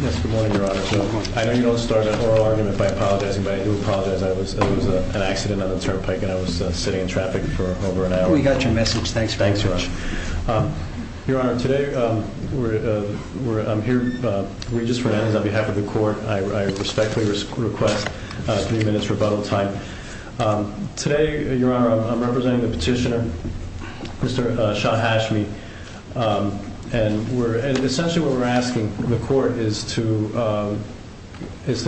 Yes, good morning, Your Honor. I know you don't start an oral argument by apologizing, but I do apologize. There was an accident on the Turnpike and I was sitting in traffic for over an hour. We got your message. Thanks very much. Thanks, Your Honor. Your Honor, today I'm here, Regis Fernandez, on behalf of the court. I respectfully request three witnesses, Mr. Shah Hashmi, and essentially what we're asking the court is to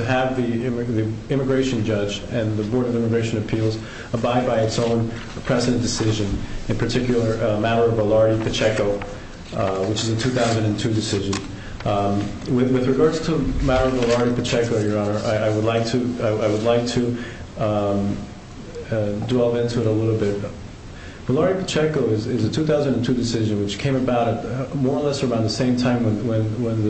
have the Immigration Judge and the Board of Immigration Appeals abide by its own present decision, in particular a matter of Valarie Pacheco, which is a 2002 decision. With regards to a matter of Valarie Pacheco, Your Honor, I would like to delve into it a little bit. Valarie Pacheco is a 2002 decision, which came about more or less around the same time when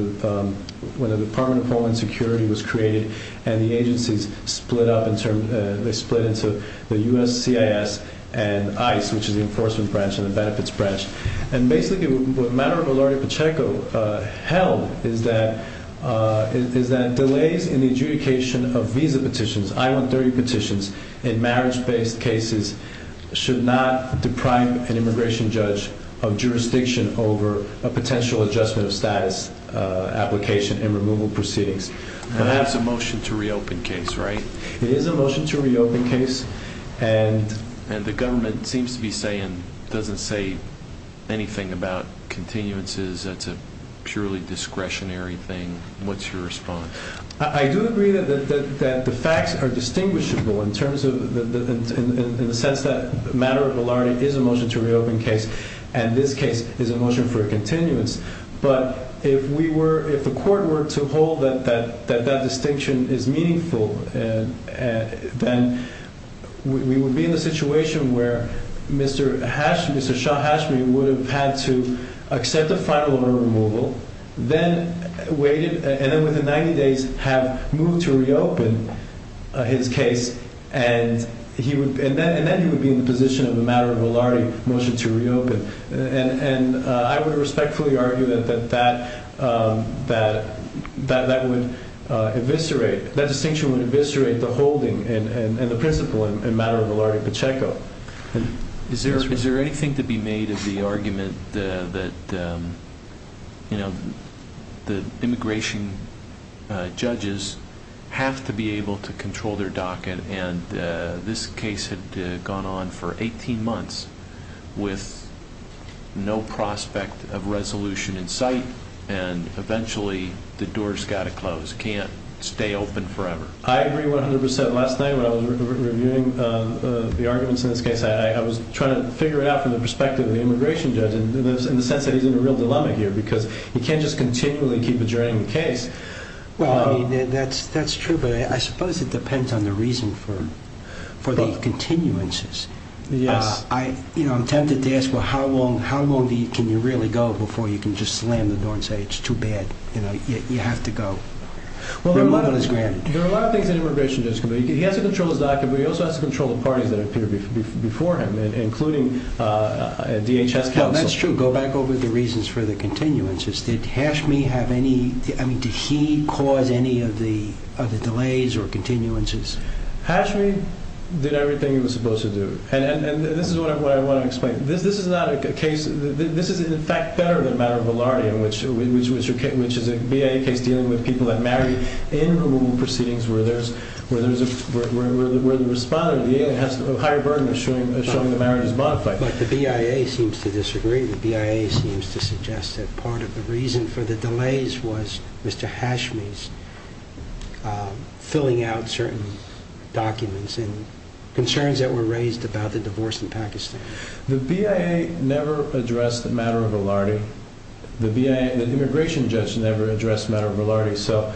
the Department of Homeland Security was created and the agencies split up. They split into the U.S. CIS and ICE, which is the Enforcement Branch and the Benefits Branch. Basically, what a matter of Valarie Pacheco held is that delays in the adjudication of visa petitions, I-130 petitions in marriage-based cases should not deprive an Immigration Judge of jurisdiction over a potential adjustment of status application and removal proceedings. That's a motion to reopen case, right? It is a motion to reopen case. And the government seems to be saying, doesn't say anything about continuances, that's a purely discretionary thing. What's your response? I do agree that the facts are distinguishable in the sense that a matter of Valarie is a motion to reopen case, and this case is a motion for a continuance. But if we were, if the court were to hold that that distinction is meaningful, then we would be in a situation where Mr. Hashmi, Mr. Shah Hashmi would have had to accept the final order of removal, then waited, and then within 90 days have moved to reopen his case, and he would, and then he would be in the position of a matter of Valarie motion to reopen. And I would respectfully argue that that, that, that, that would eviscerate, that distinction would eviscerate the holding and, and, and the principle and matter of Valarie Pacheco. Is there, is there anything to be made of the argument that, that, you know, the immigration judges have to be able to control their docket, and this case had gone on for 18 months with no prospect of resolution in sight, and eventually the door's got to close, can't stay open forever. I agree 100% last night when I was reviewing the arguments in this case, I was trying to figure it out from the perspective of the immigration judge in the sense that he's in a real dilemma here because he can't just continually keep adjourning the case. Well, that's, that's true, but I suppose it depends on the reason for, for the continuances. Yes. I, you know, I'm tempted to ask, well, how long, how long do you, can you really go before you can just slam the door and say, it's too bad? You know, you have to go. Well, there are a lot of things that an immigration judge can do. He has to control his docket, but he also has to control the parties that appear before him, including DHS counsel. That's true. Go back over the reasons for the continuances. Did Hashmi have any, I mean, did he cause any of the, of the delays or continuances? Hashmi did everything he was supposed to do, and, and, and this is what I want to explain. This, this is not a case, this is in fact better than matter of Valarie in which, which is a BIA case dealing with people that married in removal proceedings where there's, where there's a, where, where the, where the responder has a higher burden of showing, showing the marriage is modified. But the BIA seems to disagree. The BIA seems to suggest that part of the reason for the delays was Mr. Hashmi's filling out certain documents and concerns that were raised about the divorce in Pakistan. The BIA never addressed the matter of Valarie, the BIA, the immigration judge never addressed matter of Valarie. So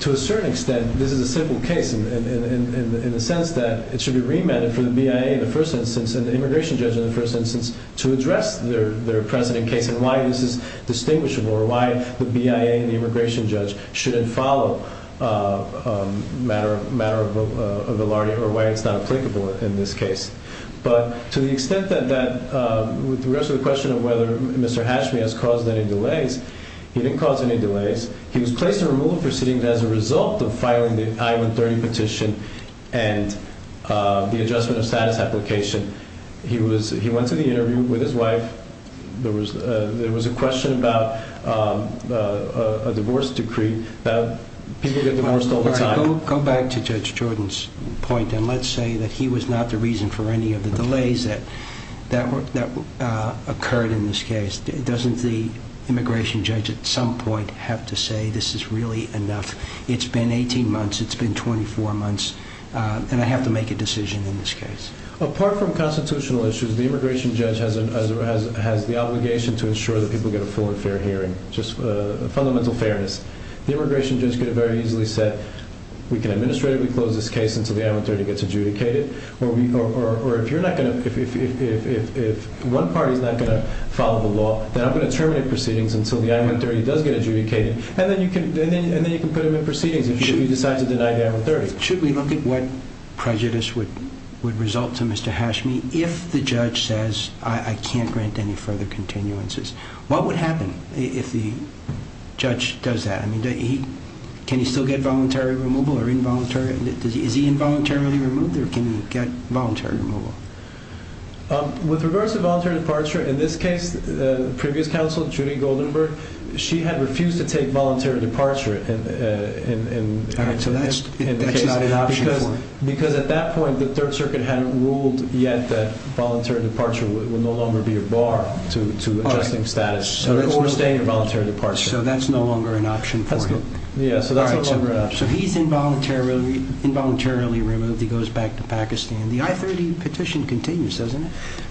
to a certain extent, this is a simple case in, in, in, in the sense that it should be remanded for the BIA in the first instance and the immigration judge in the first instance to address their, their precedent case and why this is distinguishable or why the BIA and the immigration judge shouldn't follow a matter of, matter of Valarie or why it's not in this case. But to the extent that, that with the rest of the question of whether Mr. Hashmi has caused any delays, he didn't cause any delays. He was placed in removal proceedings as a result of filing the I-130 petition and the adjustment of status application. He was, he went to the interview with his wife. There was a, there was a question about a divorce decree that people get divorced all the time. Go back to Judge Jordan's point. And let's say that he was not the reason for any of the delays that, that were, that occurred in this case. Doesn't the immigration judge at some point have to say, this is really enough. It's been 18 months, it's been 24 months. And I have to make a decision in this case. Apart from constitutional issues, the immigration judge has, has, has the obligation to ensure that people get a full and fair hearing, just a fundamental fairness. The immigration judge could have very easily said, we can administratively close this case until the I-130 gets adjudicated. Or we, or, or, or if you're not going to, if, if, if, if, if one party is not going to follow the law, then I'm going to terminate proceedings until the I-130 does get adjudicated. And then you can, and then, and then you can put them in proceedings if you decide to deny the I-130. Should we look at what prejudice would, would result to Mr. Hashmi if the judge says, I can't grant any further continuances? What would happen if the judge does that? I mean, does he, can he still get voluntary removal or involuntary? Does he, is he involuntarily removed or can he get voluntary removal? With regards to voluntary departure, in this case, previous counsel, Judy Goldenberg, she had refused to take voluntary departure in, in, in, in the case because, because at that point, the third circuit hadn't ruled yet that voluntary departure would no longer be a bar to, to adjusting status or staying in voluntary departure. So that's no longer an option for him. Yeah. So that's no longer an option. So he's involuntarily, involuntarily removed. He goes back to Pakistan. The I-30 petition continues, doesn't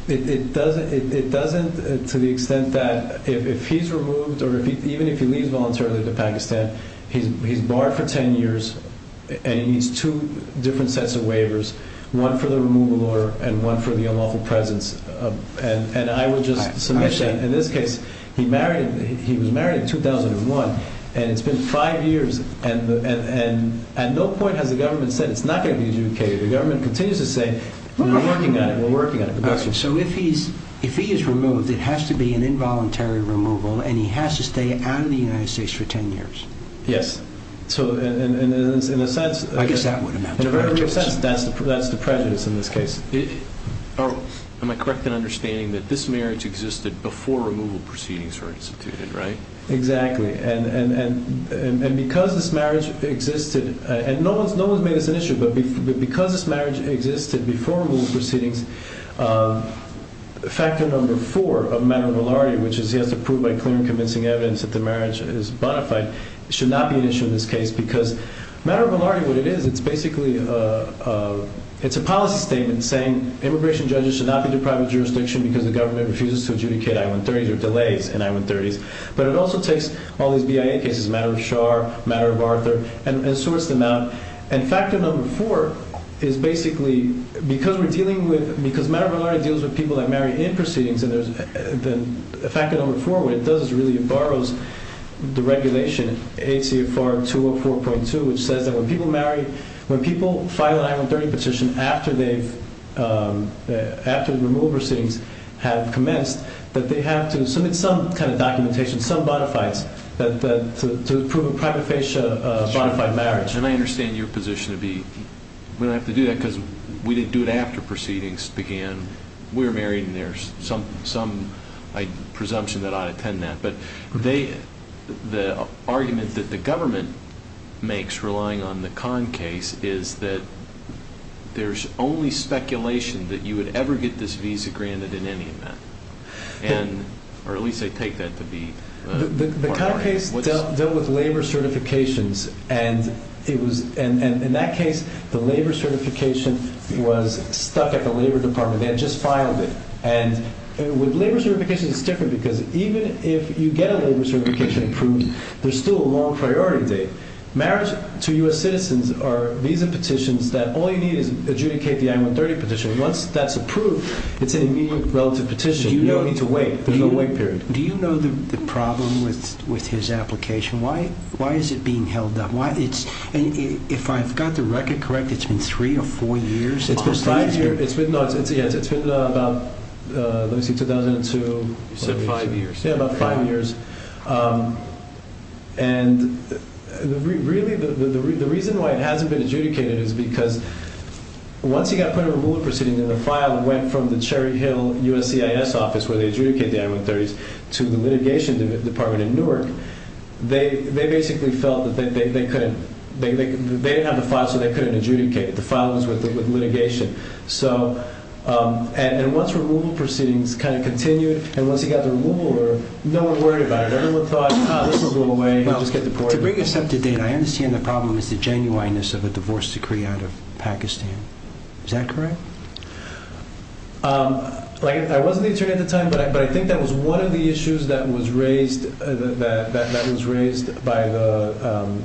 it? It doesn't, it doesn't to the extent that if he's removed or if he, even if he leaves voluntarily to Pakistan, he's, he's barred for 10 years and he needs two different sets of waivers, one for the removal order and one for the unlawful presence. And, and I will just submit that in this case, he married, he was married in 2001 and it's been five years and, and, and no point has the government said, it's not going to be adjudicated. The government continues to say, we're working on it. We're working on it. Okay. So if he's, if he is removed, it has to be an involuntary removal and he has to stay out of the United States for 10 years. Yes. So in a sense, that's the, that's the prejudice in this case. Are, am I correct in understanding that this marriage existed before removal proceedings were instituted, right? Exactly. And, and, and, and, and because this marriage existed and no one's, no one's made this an issue, but because this marriage existed before removal proceedings, factor number four of matter of validity, which is he has to prove by clear and convincing evidence that the marriage is bona fide, should not be an issue in this case because matter of validity, what it is, it's basically a, it's a policy statement saying immigration judges should not be deprived of jurisdiction because the government refuses to adjudicate I-130s or delays in I-130s. But it also takes all these BIA cases, matter of Char, matter of Arthur and sorts them out. And factor number four is basically because we're dealing with, because matter of validity deals with people that marry in proceedings. And there's the factor number four, what it does is really it borrows the regulation ACFR 204.2, which says that when people marry, when people file an I-130 petition after they've, after the removal proceedings have commenced, that they have to submit some kind of documentation, some bona fides that, that to prove a private facia bona fide marriage. And I understand your position to be, we don't have to do that because we didn't do it after proceedings began. We're married and there's some, some presumption that I attend that. But they, the argument that the government makes relying on the Conn case is that there's only speculation that you would ever get this visa granted in any event. And, or at least they take that to be. The Conn case dealt with labor certifications and it was, and in that case, the labor certification was stuck at the labor department. They had just filed it. And with labor certification, it's different because even if you get a labor certification approved, there's still a long priority date. Marriage to US citizens are visa petitions that all you need is adjudicate the I-130 petition. Once that's approved, it's an immediate relative petition. You don't need to wait. There's no wait period. Do you know the problem with, with his application? Why, why is it being held up? Why it's, if I've got the record correct, it's been three or four years. It's been five years. It's been, no, it's, it's, yes, it's been about, let me see, 2002. You said five years. Yeah, about five years. And really the, the, the, the reason why it hasn't been adjudicated is because once he got put in a ruling proceeding and the file went from the Cherry Hill USCIS office where they adjudicate the I-130s to the litigation department in Newark, they, they basically felt that they, they, they couldn't, they, they, they didn't have the file so they couldn't adjudicate it. The file was with, with litigation. So, and once removal proceedings kind of continued and once he got the removal order, no one worried about it. Everyone thought, ah, this will go away, he'll just get deported. To bring us up to date, I understand the problem is the genuineness of a divorce decree out of Pakistan. Is that correct? Like I wasn't the attorney at the time, but I, but I think that was one of the issues that was raised by the, um,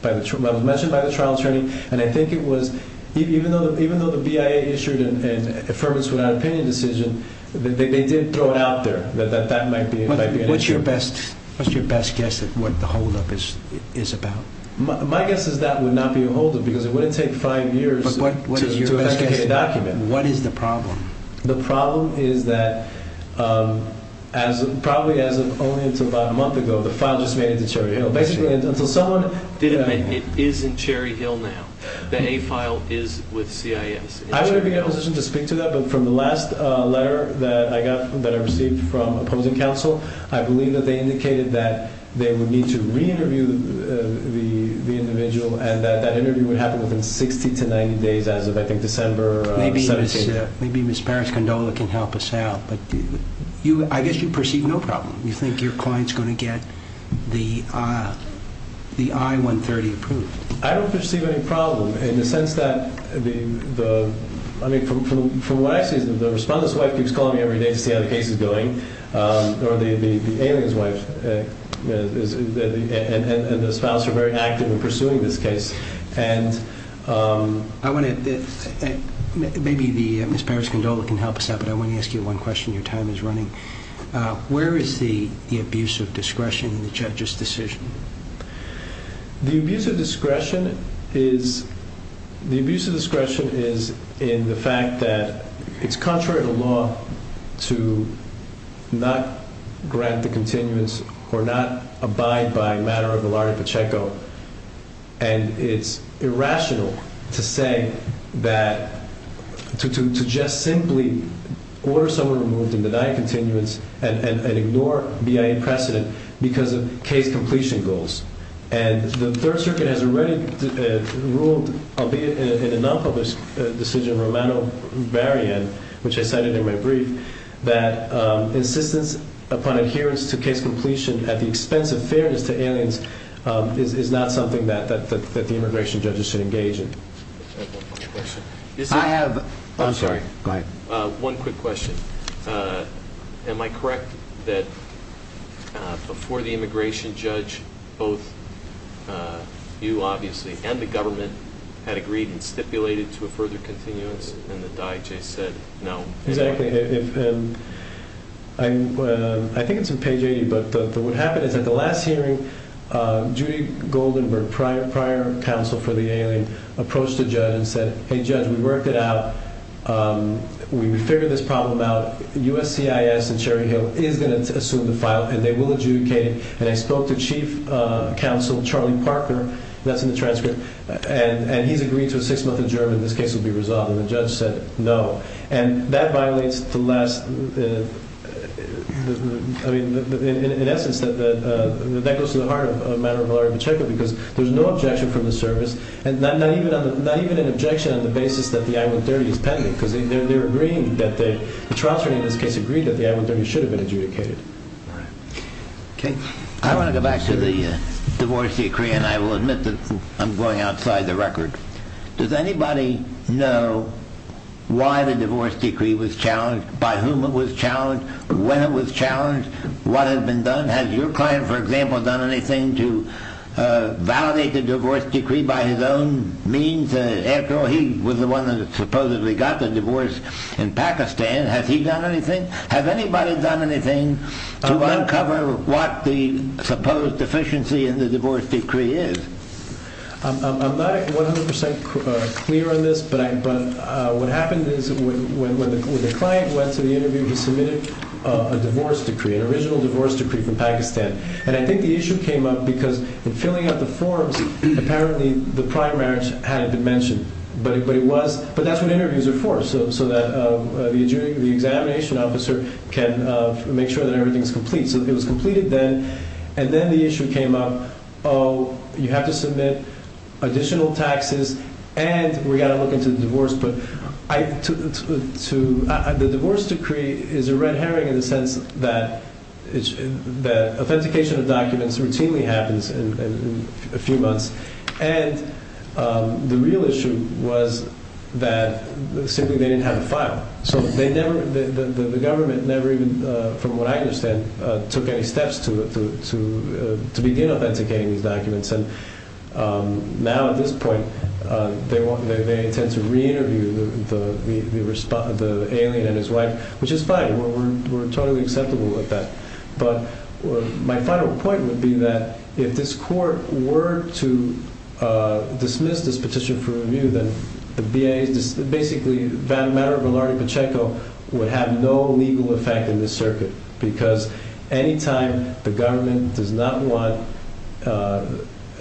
by the, mentioned by the trial attorney. And I think it was, even though, even though the BIA issued an affirmance without opinion decision, they, they did throw it out there that, that, that might be, might be an issue. What's your best, what's your best guess at what the holdup is, is about? My guess is that would not be a holdup because it wouldn't take five years. But what is your best guess? What is the problem? The problem is that, um, as probably as of only until about a month ago, the file just made it to Cherry Hill. Basically until someone... Didn't, it is in Cherry Hill now. The A file is with CIS. I wouldn't be in a position to speak to that, but from the last, uh, letter that I got, that I received from opposing counsel, I believe that they indicated that they would need to re-interview the, the, the individual and that, that interview would happen within 60 to 90 days as of, I think, December 17th. Maybe Ms. Parrish-Gondola can help us out, but you, I guess you perceive no problem. You think your client's going to get the, uh, the I-130 approved? I don't perceive any problem in the sense that the, the, I mean, from, from, from what I see is that the respondent's wife keeps calling me every day to see how the case is going. Um, or the, the, the alien's wife, uh, is the, and, and the spouse are very active in pursuing this case. And, um... I want to, maybe the, Ms. Parrish-Gondola can help us out, but I want to ask you one question. Your time is running. Uh, where is the, the abuse of discretion in the judge's decision? The abuse of discretion is, the abuse of discretion is in the fact that it's contrary to law to not grant the continuance or not abide by a matter of the law in Pacheco. And it's irrational to say that, to, to, to just simply order someone removed and deny continuance and, and, and ignore BIA precedent because of case completion goals. And the third circuit has already, uh, ruled, albeit in a non-public decision, Romano-Varian, which I cited in my brief, that, um, insistence upon adherence to case completion at the expense of fairness to aliens, um, is, is not something that, that, that the immigration judges should engage in. I have one quick question. Uh, am I correct that, uh, before the immigration judge, both, uh, you obviously and the government had agreed and stipulated to a further continuance and the DIJ said no. Exactly. If, um, I'm, uh, I think it's in page 80, but the, the, what happened is at the last hearing, uh, Judy Goldenberg, prior, prior counsel for the judge and said, Hey judge, we worked it out. Um, we, we figured this problem out. USCIS and Cherry Hill is going to assume the file and they will adjudicate it. And I spoke to chief, uh, counsel, Charlie Parker, that's in the transcript. And, and he's agreed to a six month adjournment. This case will be resolved. And the judge said no. And that violates the last, uh, I mean, in essence that, that, uh, that goes to the heart of the case. And they're giving an objection on the basis that the I-130 is pending because they're agreeing that the, the trial attorney in this case agreed that the I-130 should have been adjudicated. All right. Okay. I want to go back to the, uh, divorce decree and I will admit that I'm going outside the record. Does anybody know why the divorce decree was challenged? By whom it was challenged? When it was challenged? What had been done? Has your client, for example, done anything to, uh, validate the divorce decree by his own means? After all, he was the one that supposedly got the divorce in Pakistan. Has he done anything? Has anybody done anything to uncover what the supposed deficiency in the divorce decree is? I'm not 100% clear on this, but I, but, uh, what happened is when, when, when the client went to the interview, he submitted a divorce decree from Pakistan. And I think the issue came up because in filling out the forms, apparently the primaries hadn't been mentioned, but it, but it was, but that's what interviews are for. So, so that, uh, uh, the jury, the examination officer can, uh, make sure that everything's complete. So it was completed then. And then the issue came up, oh, you have to submit additional taxes and we got to look into the divorce. But I, to, to, to, uh, the divorce decree is a red Herring in the sense that it's, that authentication of documents routinely happens in a few months. And, um, the real issue was that simply they didn't have a file. So they never, the, the, the, the government never even, uh, from what I understand, uh, took any steps to, to, to, uh, to begin authenticating these documents. And, um, now at this point, uh, they want, they, they tend to re-interview the, the, the respondent, the alien and his wife, which is fine. We're, we're, we're totally acceptable with that. But my final point would be that if this court were to, uh, dismiss this petition for review, then the VA is basically Vanamara, Velarde Pacheco would have no legal effect in this circuit because anytime the government does not want, uh,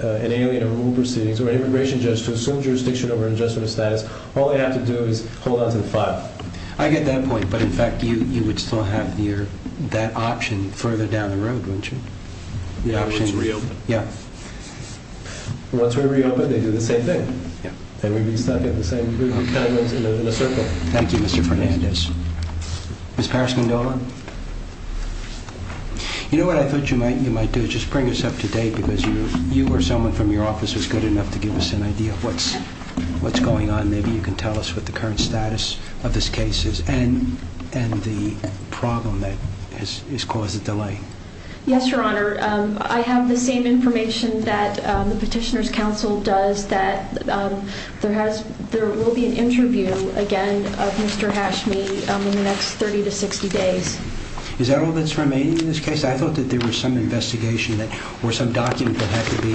uh, an alien or rule proceedings or an immigration judge to assume jurisdiction over an adjustment of status, all they have to do is hold on to the file. I get that point. But in fact, you, you would still have your, that option further down the road, wouldn't you? Yeah. Once we reopened, they do the same thing. Yeah. And we'd be stuck at the same group in a circle. Thank you, Mr. Fernandez. Ms. Paris-Mendola. You know what I thought you might, you might do is just bring us up to date because you, you or someone from your office was good enough to give us an idea of what's, what's going on. Maybe you can tell us what the current status of this case is and, and the problem that has caused the delay. Yes, Your Honor. Um, I have the same information that, um, the petitioners council does that, um, there has, there will be an interview again of Mr. Hashmi in the next 30 to 60 days. Is that all that's remaining in this case? I thought that there was some investigation that, or some document that had to be,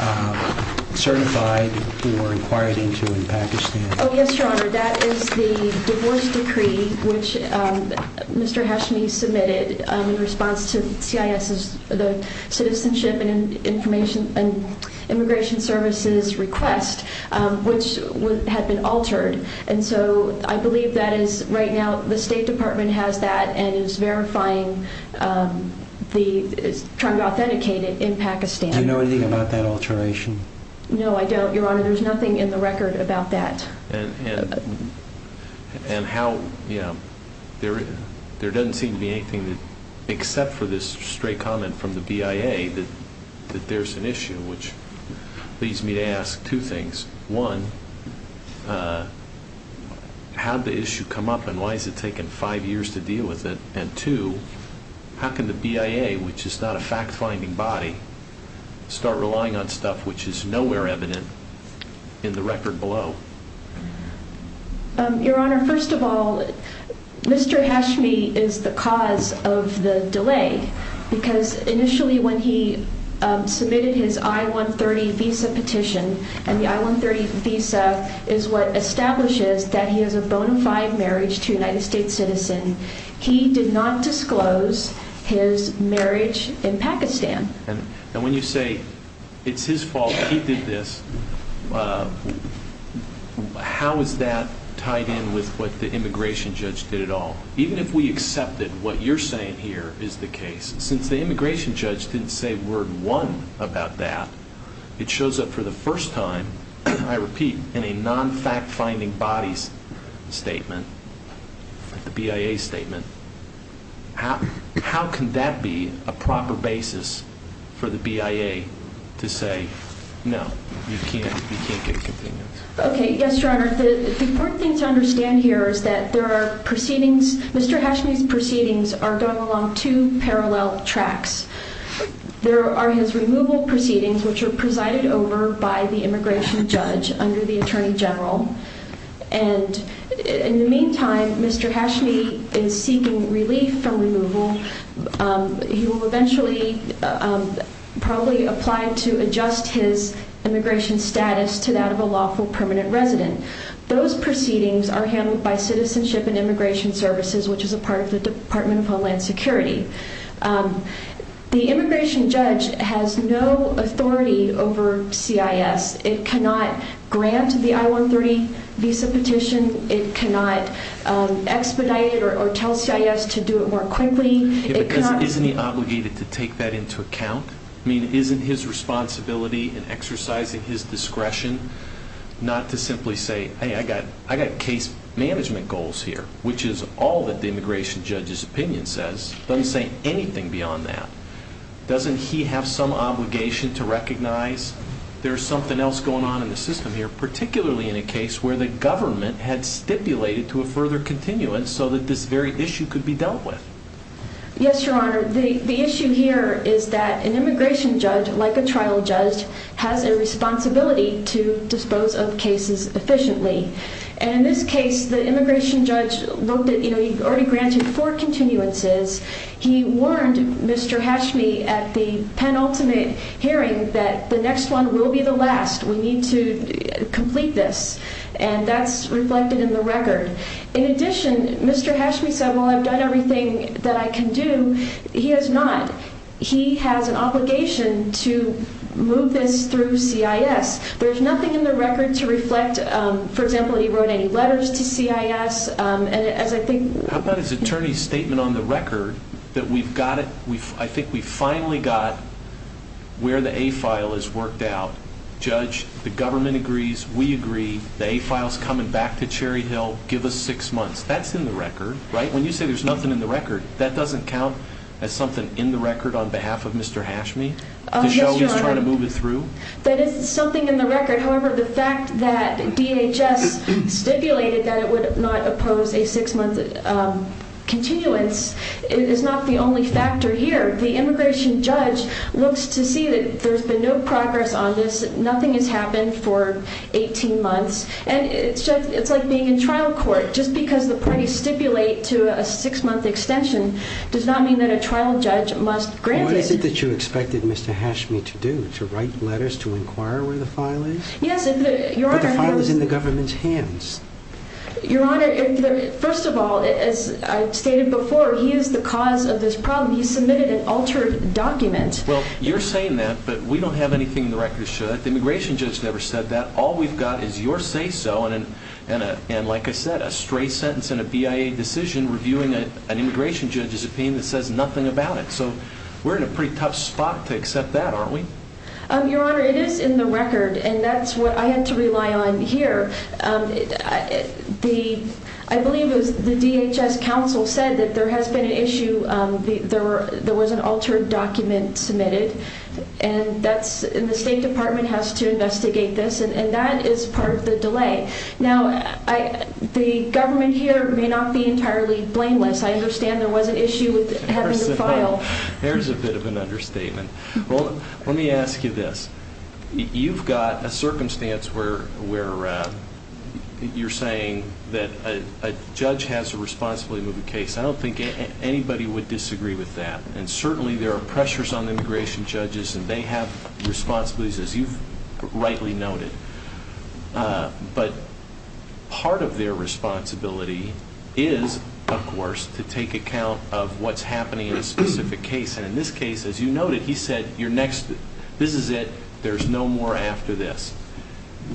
um, certified or inquired into in Pakistan. Oh, yes, Your Honor. That is the divorce decree, which, um, Mr. Hashmi submitted, um, in response to CIS's, the citizenship and information and immigration services request, um, which would have been altered. And so I believe that is right now the state department has that and is verifying, um, the, is trying to authenticate it in Pakistan. Do you know anything about that alteration? No, I don't, Your Honor. There's nothing in the record about that. And how, you know, there, there doesn't seem to be anything that, except for this straight comment from the BIA that, that there's an issue, which leads me to ask two things. One, uh, how'd the issue come up and why is it taking five years to deal with it? And two, how can the BIA, which is not a fact-finding body, start relying on stuff which is nowhere evident in the record below? Um, Your Honor, first of all, Mr. Hashmi is the cause of the delay because initially when he, um, submitted his I-130 visa petition and the I-130 visa is what establishes that he has a bona fide marriage to a United States citizen, he did not disclose his marriage in Pakistan. And when you say it's his fault that he did this, uh, how is that tied in with what the immigration judge did at all? Even if we accepted what you're saying here is the case, since the immigration judge didn't say word one about that, it shows up for the first time, I repeat, in a non-fact-finding bodies statement, the BIA statement. How, how can that be a proper basis for the BIA to say, no, you can't, you can't get a continuance? Okay. Yes, Your Honor. The important thing to understand here is that there are proceedings, Mr. Hashmi's proceedings are going along two parallel tracks. There are his removal proceedings, which are presided over by the immigration judge under the attorney general. And in the meantime, Mr. Hashmi is seeking relief from removal. Um, he will eventually, um, probably apply to adjust his immigration status to that of a lawful permanent resident. Those proceedings are handled by Citizenship and Homeland Security. Um, the immigration judge has no authority over CIS. It cannot grant the I-130 visa petition. It cannot, um, expedite or tell CIS to do it more quickly. Isn't he obligated to take that into account? I mean, isn't his responsibility in exercising his discretion not to simply say, Hey, I got, I got case management goals here, which is all that immigration judge's opinion says, doesn't say anything beyond that. Doesn't he have some obligation to recognize there's something else going on in the system here, particularly in a case where the government had stipulated to a further continuance so that this very issue could be dealt with? Yes, Your Honor. The issue here is that an immigration judge, like a trial judge, has a responsibility to dispose of cases efficiently. And in this case, the immigration judge only granted four continuances. He warned Mr. Hashmi at the penultimate hearing that the next one will be the last. We need to complete this. And that's reflected in the record. In addition, Mr. Hashmi said, well, I've done everything that I can do. He has not. He has an obligation to move this through CIS. There's nothing in the record to reflect, um, for example, he wrote any attorney's statement on the record that we've got it. We've, I think we finally got where the a file is worked out. Judge, the government agrees. We agree. The a file's coming back to Cherry Hill. Give us six months. That's in the record, right? When you say there's nothing in the record, that doesn't count as something in the record on behalf of Mr. Hashmi to show he's trying to move it through. That is something in the record. However, the fact that DHS stipulated that it would not oppose a six-month, um, continuance is not the only factor here. The immigration judge looks to see that there's been no progress on this. Nothing has happened for 18 months. And it's just, it's like being in trial court. Just because the parties stipulate to a six-month extension does not mean that a trial judge must grant it. What is it that you expected Mr. Hashmi to do? To write letters? To inquire where the file is? Yes, your honor. But the file is in the government's hands. Your honor, first of all, as I stated before, he is the cause of this problem. He submitted an altered document. Well, you're saying that, but we don't have anything in the record to show that. The immigration judge never said that. All we've got is your say-so and a, and a, and like I said, a stray sentence and a BIA decision reviewing an immigration judge's opinion that says nothing about it. So we're in a pretty tough spot to accept that, aren't we? Um, your honor, it is in the record and that's what I had to rely on here. Um, the, I believe it was the DHS council said that there has been an issue, um, the, there were, there was an altered document submitted and that's, and the state department has to investigate this and that is part of the delay. Now, I, the government here may not be entirely blameless. I understand there was an issue with having to file. There's a bit of an understatement. Well, let me ask you this. You've got a circumstance where, where, uh, you're saying that a judge has a responsibility to move a case. I don't think anybody would disagree with that. And certainly there are pressures on immigration judges and they have responsibilities as you've rightly noted. Uh, but part of their responsibility is of course to take account of what's happening in a specific case. And in this case, as you noted, he said, you're next. This is it. There's no more after this.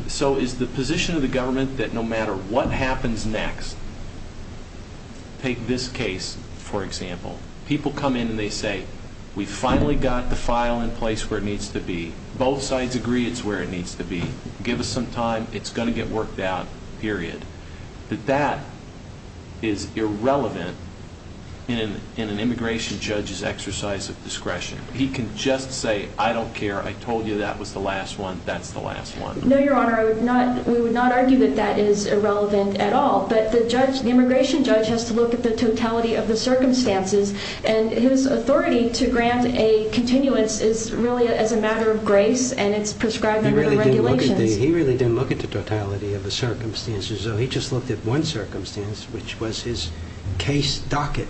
So is the position of the government that no matter what happens next, take this case, for example, people come in and they say, we finally got the file in place where it needs to be. Both sides agree it's where it needs to be. Give us some time. It's going to get worked out. Period. But that is irrelevant in an, in an immigration judge's exercise of discretion. He can just say, I don't care. I told you that was the last one. That's the last one. No, Your Honor. I would not, we would not argue that that is irrelevant at all, but the judge, the immigration judge has to look at the totality of the circumstances and his authority to grant a continuance is really as a matter of grace and it's prescribed he really didn't look at the totality of the circumstances. So he just looked at one circumstance, which was his case docket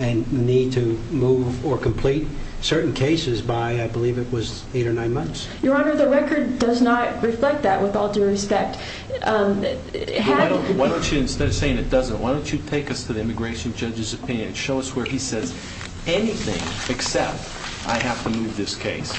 and need to move or complete certain cases by, I believe it was eight or nine months. Your Honor, the record does not reflect that with all due respect. Um, why don't you instead of saying it doesn't, why don't you take us to the immigration judge's opinion and show us where he says anything except I have to move this case.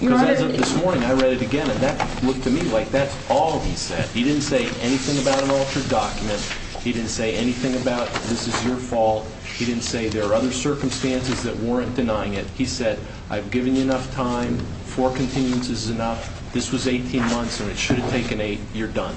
Your Honor, this morning I read it again and that looked to me like that's all he said. He didn't say anything about an altered document. He didn't say anything about this is your fault. He didn't say there are other circumstances that weren't denying it. He said, I've given you enough time for continuance is enough. This was 18 months and it should have taken eight. You're done.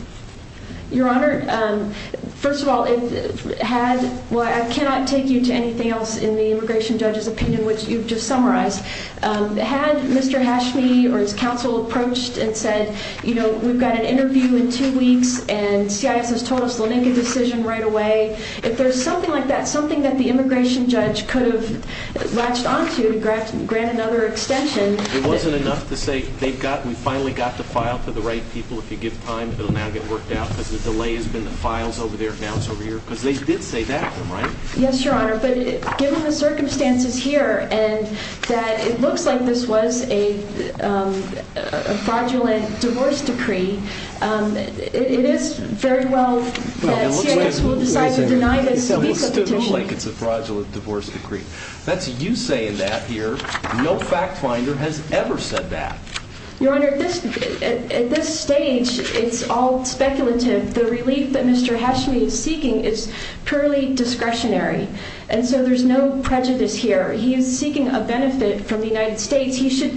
Your Honor. Um, first of all, if had, well, I cannot take you to anything else in the immigration judge's opinion, which you've just summarized. Um, had Mr Hashmi or his counsel approached and said, you know, we've got an interview in two weeks and CIS has told us the Lincoln decision right away. If there's something like that, something that the immigration judge could have latched onto to grant, grant another extension. It wasn't enough to say they've got, we finally got the file for the right people. If you give time, it'll now get worked out because the delay has been the files over there. Now it's over here because they did say that, right? Yes, the circumstances here and that it looks like this was a fraudulent divorce decree. Um, it is very well denied. It's a fraudulent divorce decree. That's you saying that here. No fact finder has ever said that your Honor at this stage, it's all speculative. The relief that purely discretionary. And so there's no prejudice here. He is seeking a benefit from the United States. He should,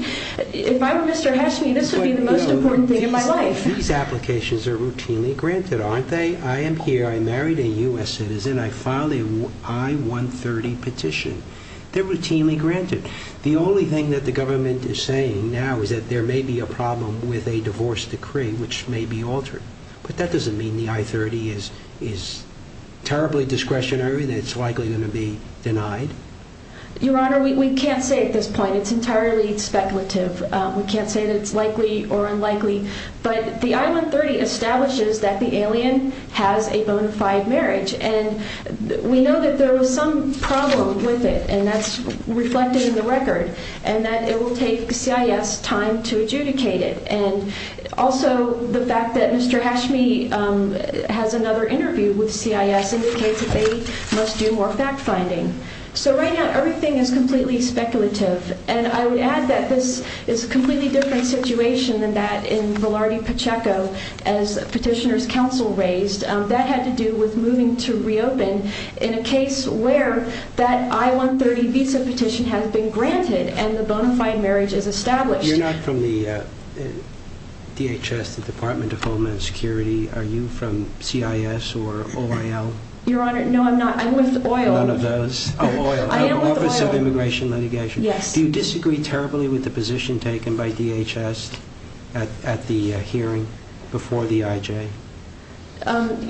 if I were Mr Hashmi, this would be the most important thing in my life. These applications are routinely granted, aren't they? I am here. I married a U S citizen. I filed a I one 30 petition. They're routinely granted. The only thing that the government is saying now is that there may be a problem with a divorce decree, which may be altered, but that doesn't mean the I 30 is is terribly discretionary. That's likely going to be denied. Your Honor, we can't say at this point. It's entirely speculative. We can't say that it's likely or unlikely, but the island 30 establishes that the alien has a bona fide marriage, and we know that there was some problem with it, and that's reflecting the record and that it will take CIS time to adjudicate it. And also the fact that Mr Hashmi has another interview with CIS indicates that they must do more fact finding. So right now, everything is completely speculative. And I would add that this is a completely different situation than that in Velarde Pacheco as petitioners council raised that had to do with moving to reopen in a case where that I one 30 visa petition has been granted, and the bona fide marriage is established. You're not from the DHS, the Department of Homeland Security. Are you from CIS or oil? Your Honor? No, I'm not. I'm with oil. None of those oil office of immigration litigation. Yes, you disagree terribly with the position taken by DHS at the hearing before the IJ.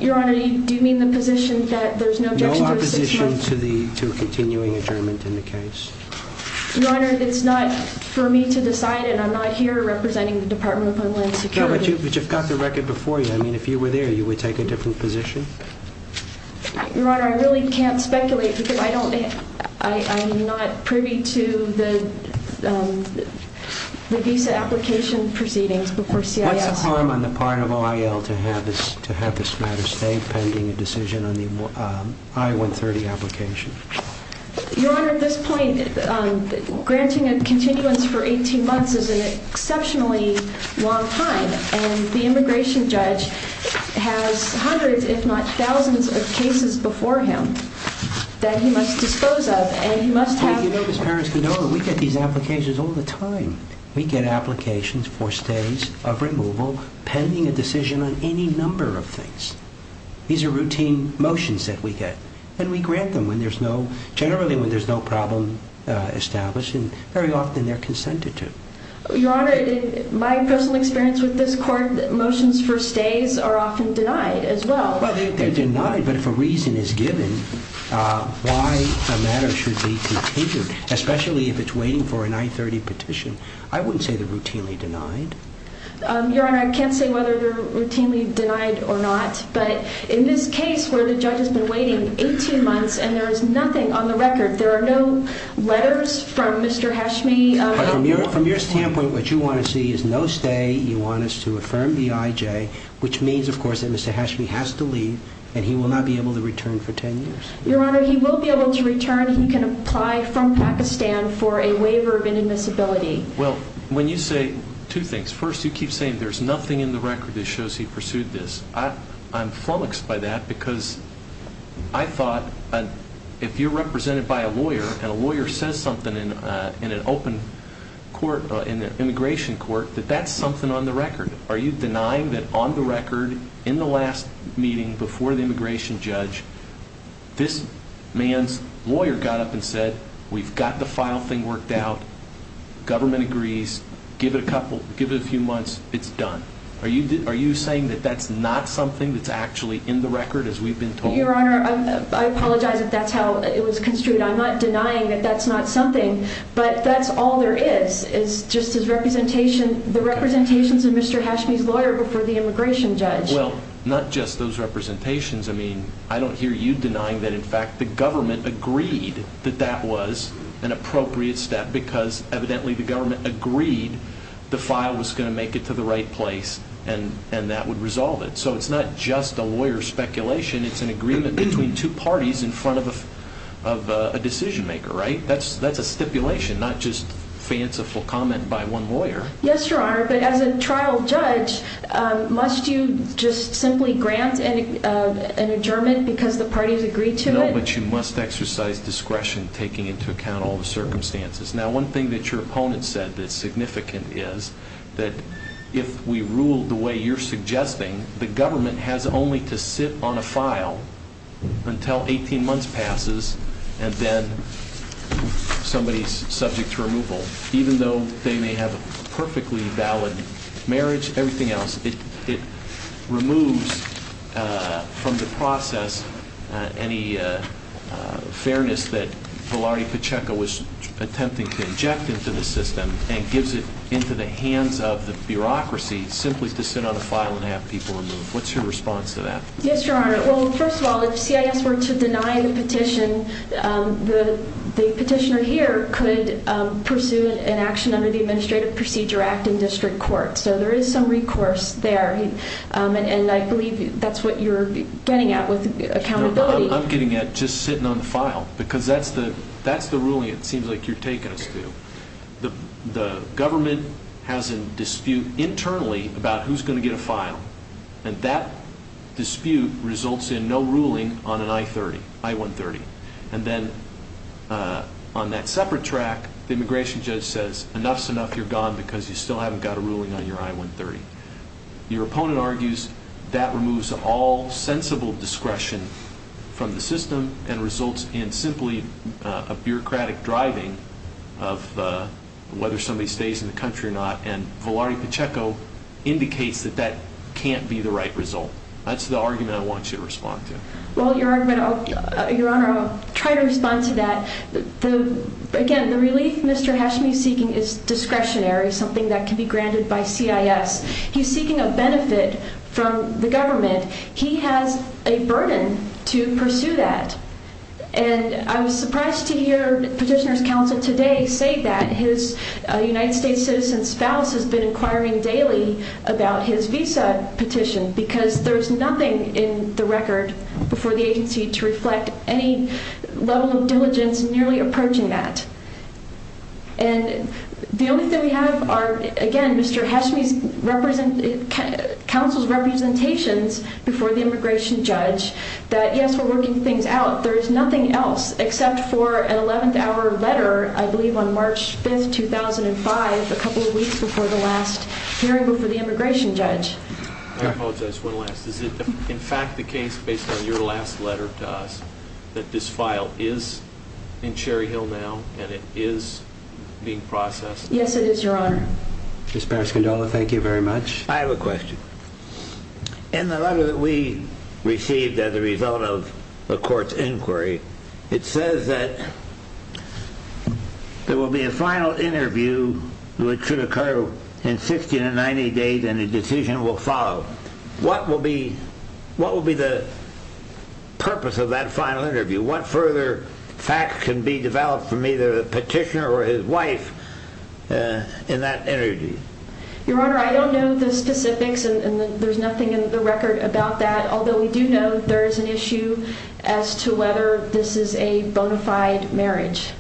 Your Honor, do you mean the position that there's no opposition to the continuing adjournment in the case? Your Honor, it's not for me to decide, and I'm not here representing the Department of Homeland Security, but you've got the record before you. I mean, if you were there, you would take a different position. Your Honor, I really can't speculate because I don't. I'm not privy to the visa application proceedings before CIS on the part of oil to have this to have this matter stay pending a decision on the I one 30 application. Your Honor, at this point, granting a continuance for 18 months is an exceptionally long time, and the immigration judge has hundreds, if not thousands of cases before him that he must dispose of, and he must have his parents. You know that we get these applications all the time. We get applications for stays of removal pending a decision on any number of things. These are routine motions that we get, and we grant them when there's no generally when there's no problem established, and very often they're consented to. Your Honor, in my personal experience with this court, motions for stays are often denied as well. Well, they're denied, but if a reason is given why a matter should be continued, especially if it's waiting for a 930 petition, I wouldn't say they're routinely denied. Your Honor, I can't say whether they're routinely denied or not, but in this case where the judge has been waiting 18 months and there is nothing on the record, there are no letters from Mr. Hashmi. From your standpoint, what you want to see is no stay. You want us to affirm the IJ, which means, of course, that Mr. Hashmi has to leave and he will not be able to return for 10 years. Your Honor, he will be able to return. He can apply from Pakistan for a waiver of inadmissibility. Well, when you say two things. First, you keep saying there's nothing in the record that shows he pursued this. I'm flummoxed by that because I thought if you're represented by a lawyer and a lawyer says something in an open court, in an immigration court, that that's something on the record. Are you denying that on the record, in the last meeting before the immigration judge, this man's lawyer got up and said, we've got the file thing worked out, government agrees, give it a couple, give it a few months, it's done. Are you saying that that's not something that's actually in the record as we've been told? Your Honor, I apologize if that's how it was construed. I'm not denying that that's not something, but that's all there is, is just his representation, the representations of Mr. Hashmi's lawyer before the immigration judge. Well, not just those representations. I mean, I don't hear you denying that in fact the government agreed that that was an appropriate step because evidently the government agreed the file was going to make it to the right place and that would resolve it. So it's not just a lawyer speculation. It's an agreement between two parties in front of a decision maker, right? That's a stipulation, not just trial judge. Must you just simply grant an adjournment because the parties agreed to it? No, but you must exercise discretion taking into account all the circumstances. Now, one thing that your opponent said that's significant is that if we rule the way you're suggesting, the government has only to sit on a file until 18 months passes and then somebody's subject to removal. Even though they may have a perfectly valid marriage, everything else, it removes from the process any fairness that Velarde Pacheco was attempting to inject into the system and gives it into the hands of the bureaucracy simply to sit on a file and have people removed. What's your response to that? Yes, your honor. Well, first of all, if CIS were to deny the petition, the petitioner here could pursue an action under the Administrative Procedure Act in district court. So there is some recourse there and I believe that's what you're getting at with accountability. I'm getting at just sitting on the file because that's the ruling it seems like you're taking us to. The government has a dispute internally about who's going to get a file and that dispute results in no ruling on an I-130. And then on that separate track, the immigration judge says, enough's enough, you're gone because you still haven't got a ruling on your I-130. Your opponent argues that removes all sensible discretion from the system and results in simply a bureaucratic driving of whether somebody stays in the country or not. And can't be the right result. That's the argument I want you to respond to. Well, your argument, your honor, I'll try to respond to that. Again, the relief Mr. Hashmi is seeking is discretionary, something that can be granted by CIS. He's seeking a benefit from the government. He has a burden to pursue that. And I was surprised to hear petitioner's counsel today say that his United States citizen spouse has been inquiring daily about his visa petition because there's nothing in the record before the agency to reflect any level of diligence nearly approaching that. And the only thing we have are, again, Mr. Hashmi's counsel's representations before the immigration judge that yes, we're working things out. There is nothing else except for an 11th letter, I believe on March 5th, 2005, a couple of weeks before the last hearing before the immigration judge. I apologize, one last. Is it in fact the case based on your last letter to us that this file is in Cherry Hill now and it is being processed? Yes, it is, your honor. Ms. Parascondola, thank you very much. I have a question. In the letter that we received as a inquiry, it says that there will be a final interview which should occur in 60 to 90 days and a decision will follow. What will be the purpose of that final interview? What further facts can be developed from either the petitioner or his wife in that interview? Your honor, I don't know the specifics and there's nothing in the record about that. Although we do know there is an issue as to whether this is a bona fide marriage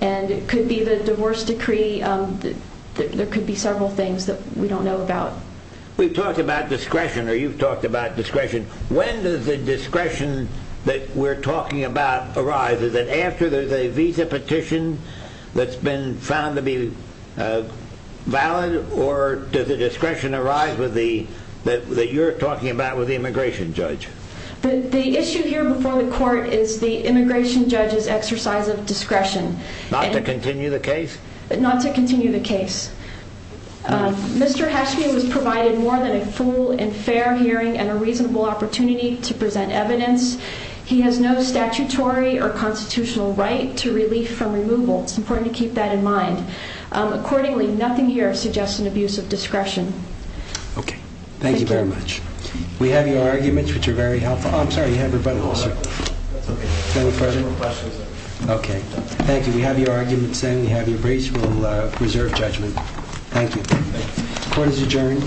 and it could be the divorce decree. There could be several things that we don't know about. We've talked about discretion or you've talked about discretion. When does the discretion that we're talking about arise? Is it after there's a visa petition that's been found to be valid or does the discretion arise that you're talking about with the immigration judge? The issue here before the court is the immigration judge's exercise of discretion. Not to continue the case? Not to continue the case. Mr. Hashmi was provided more than a full and fair hearing and a reasonable opportunity to present evidence. He has no statutory or constitutional right to relief from removal. It's important to keep that in mind. Accordingly, nothing here suggests an abuse of discretion. Okay. Thank you very much. We have your arguments, which are very helpful. I'm sorry, you have rebuttal. Okay. Thank you. We have your arguments and we have your brace. We'll reserve judgment. Thank you. Court is adjourned.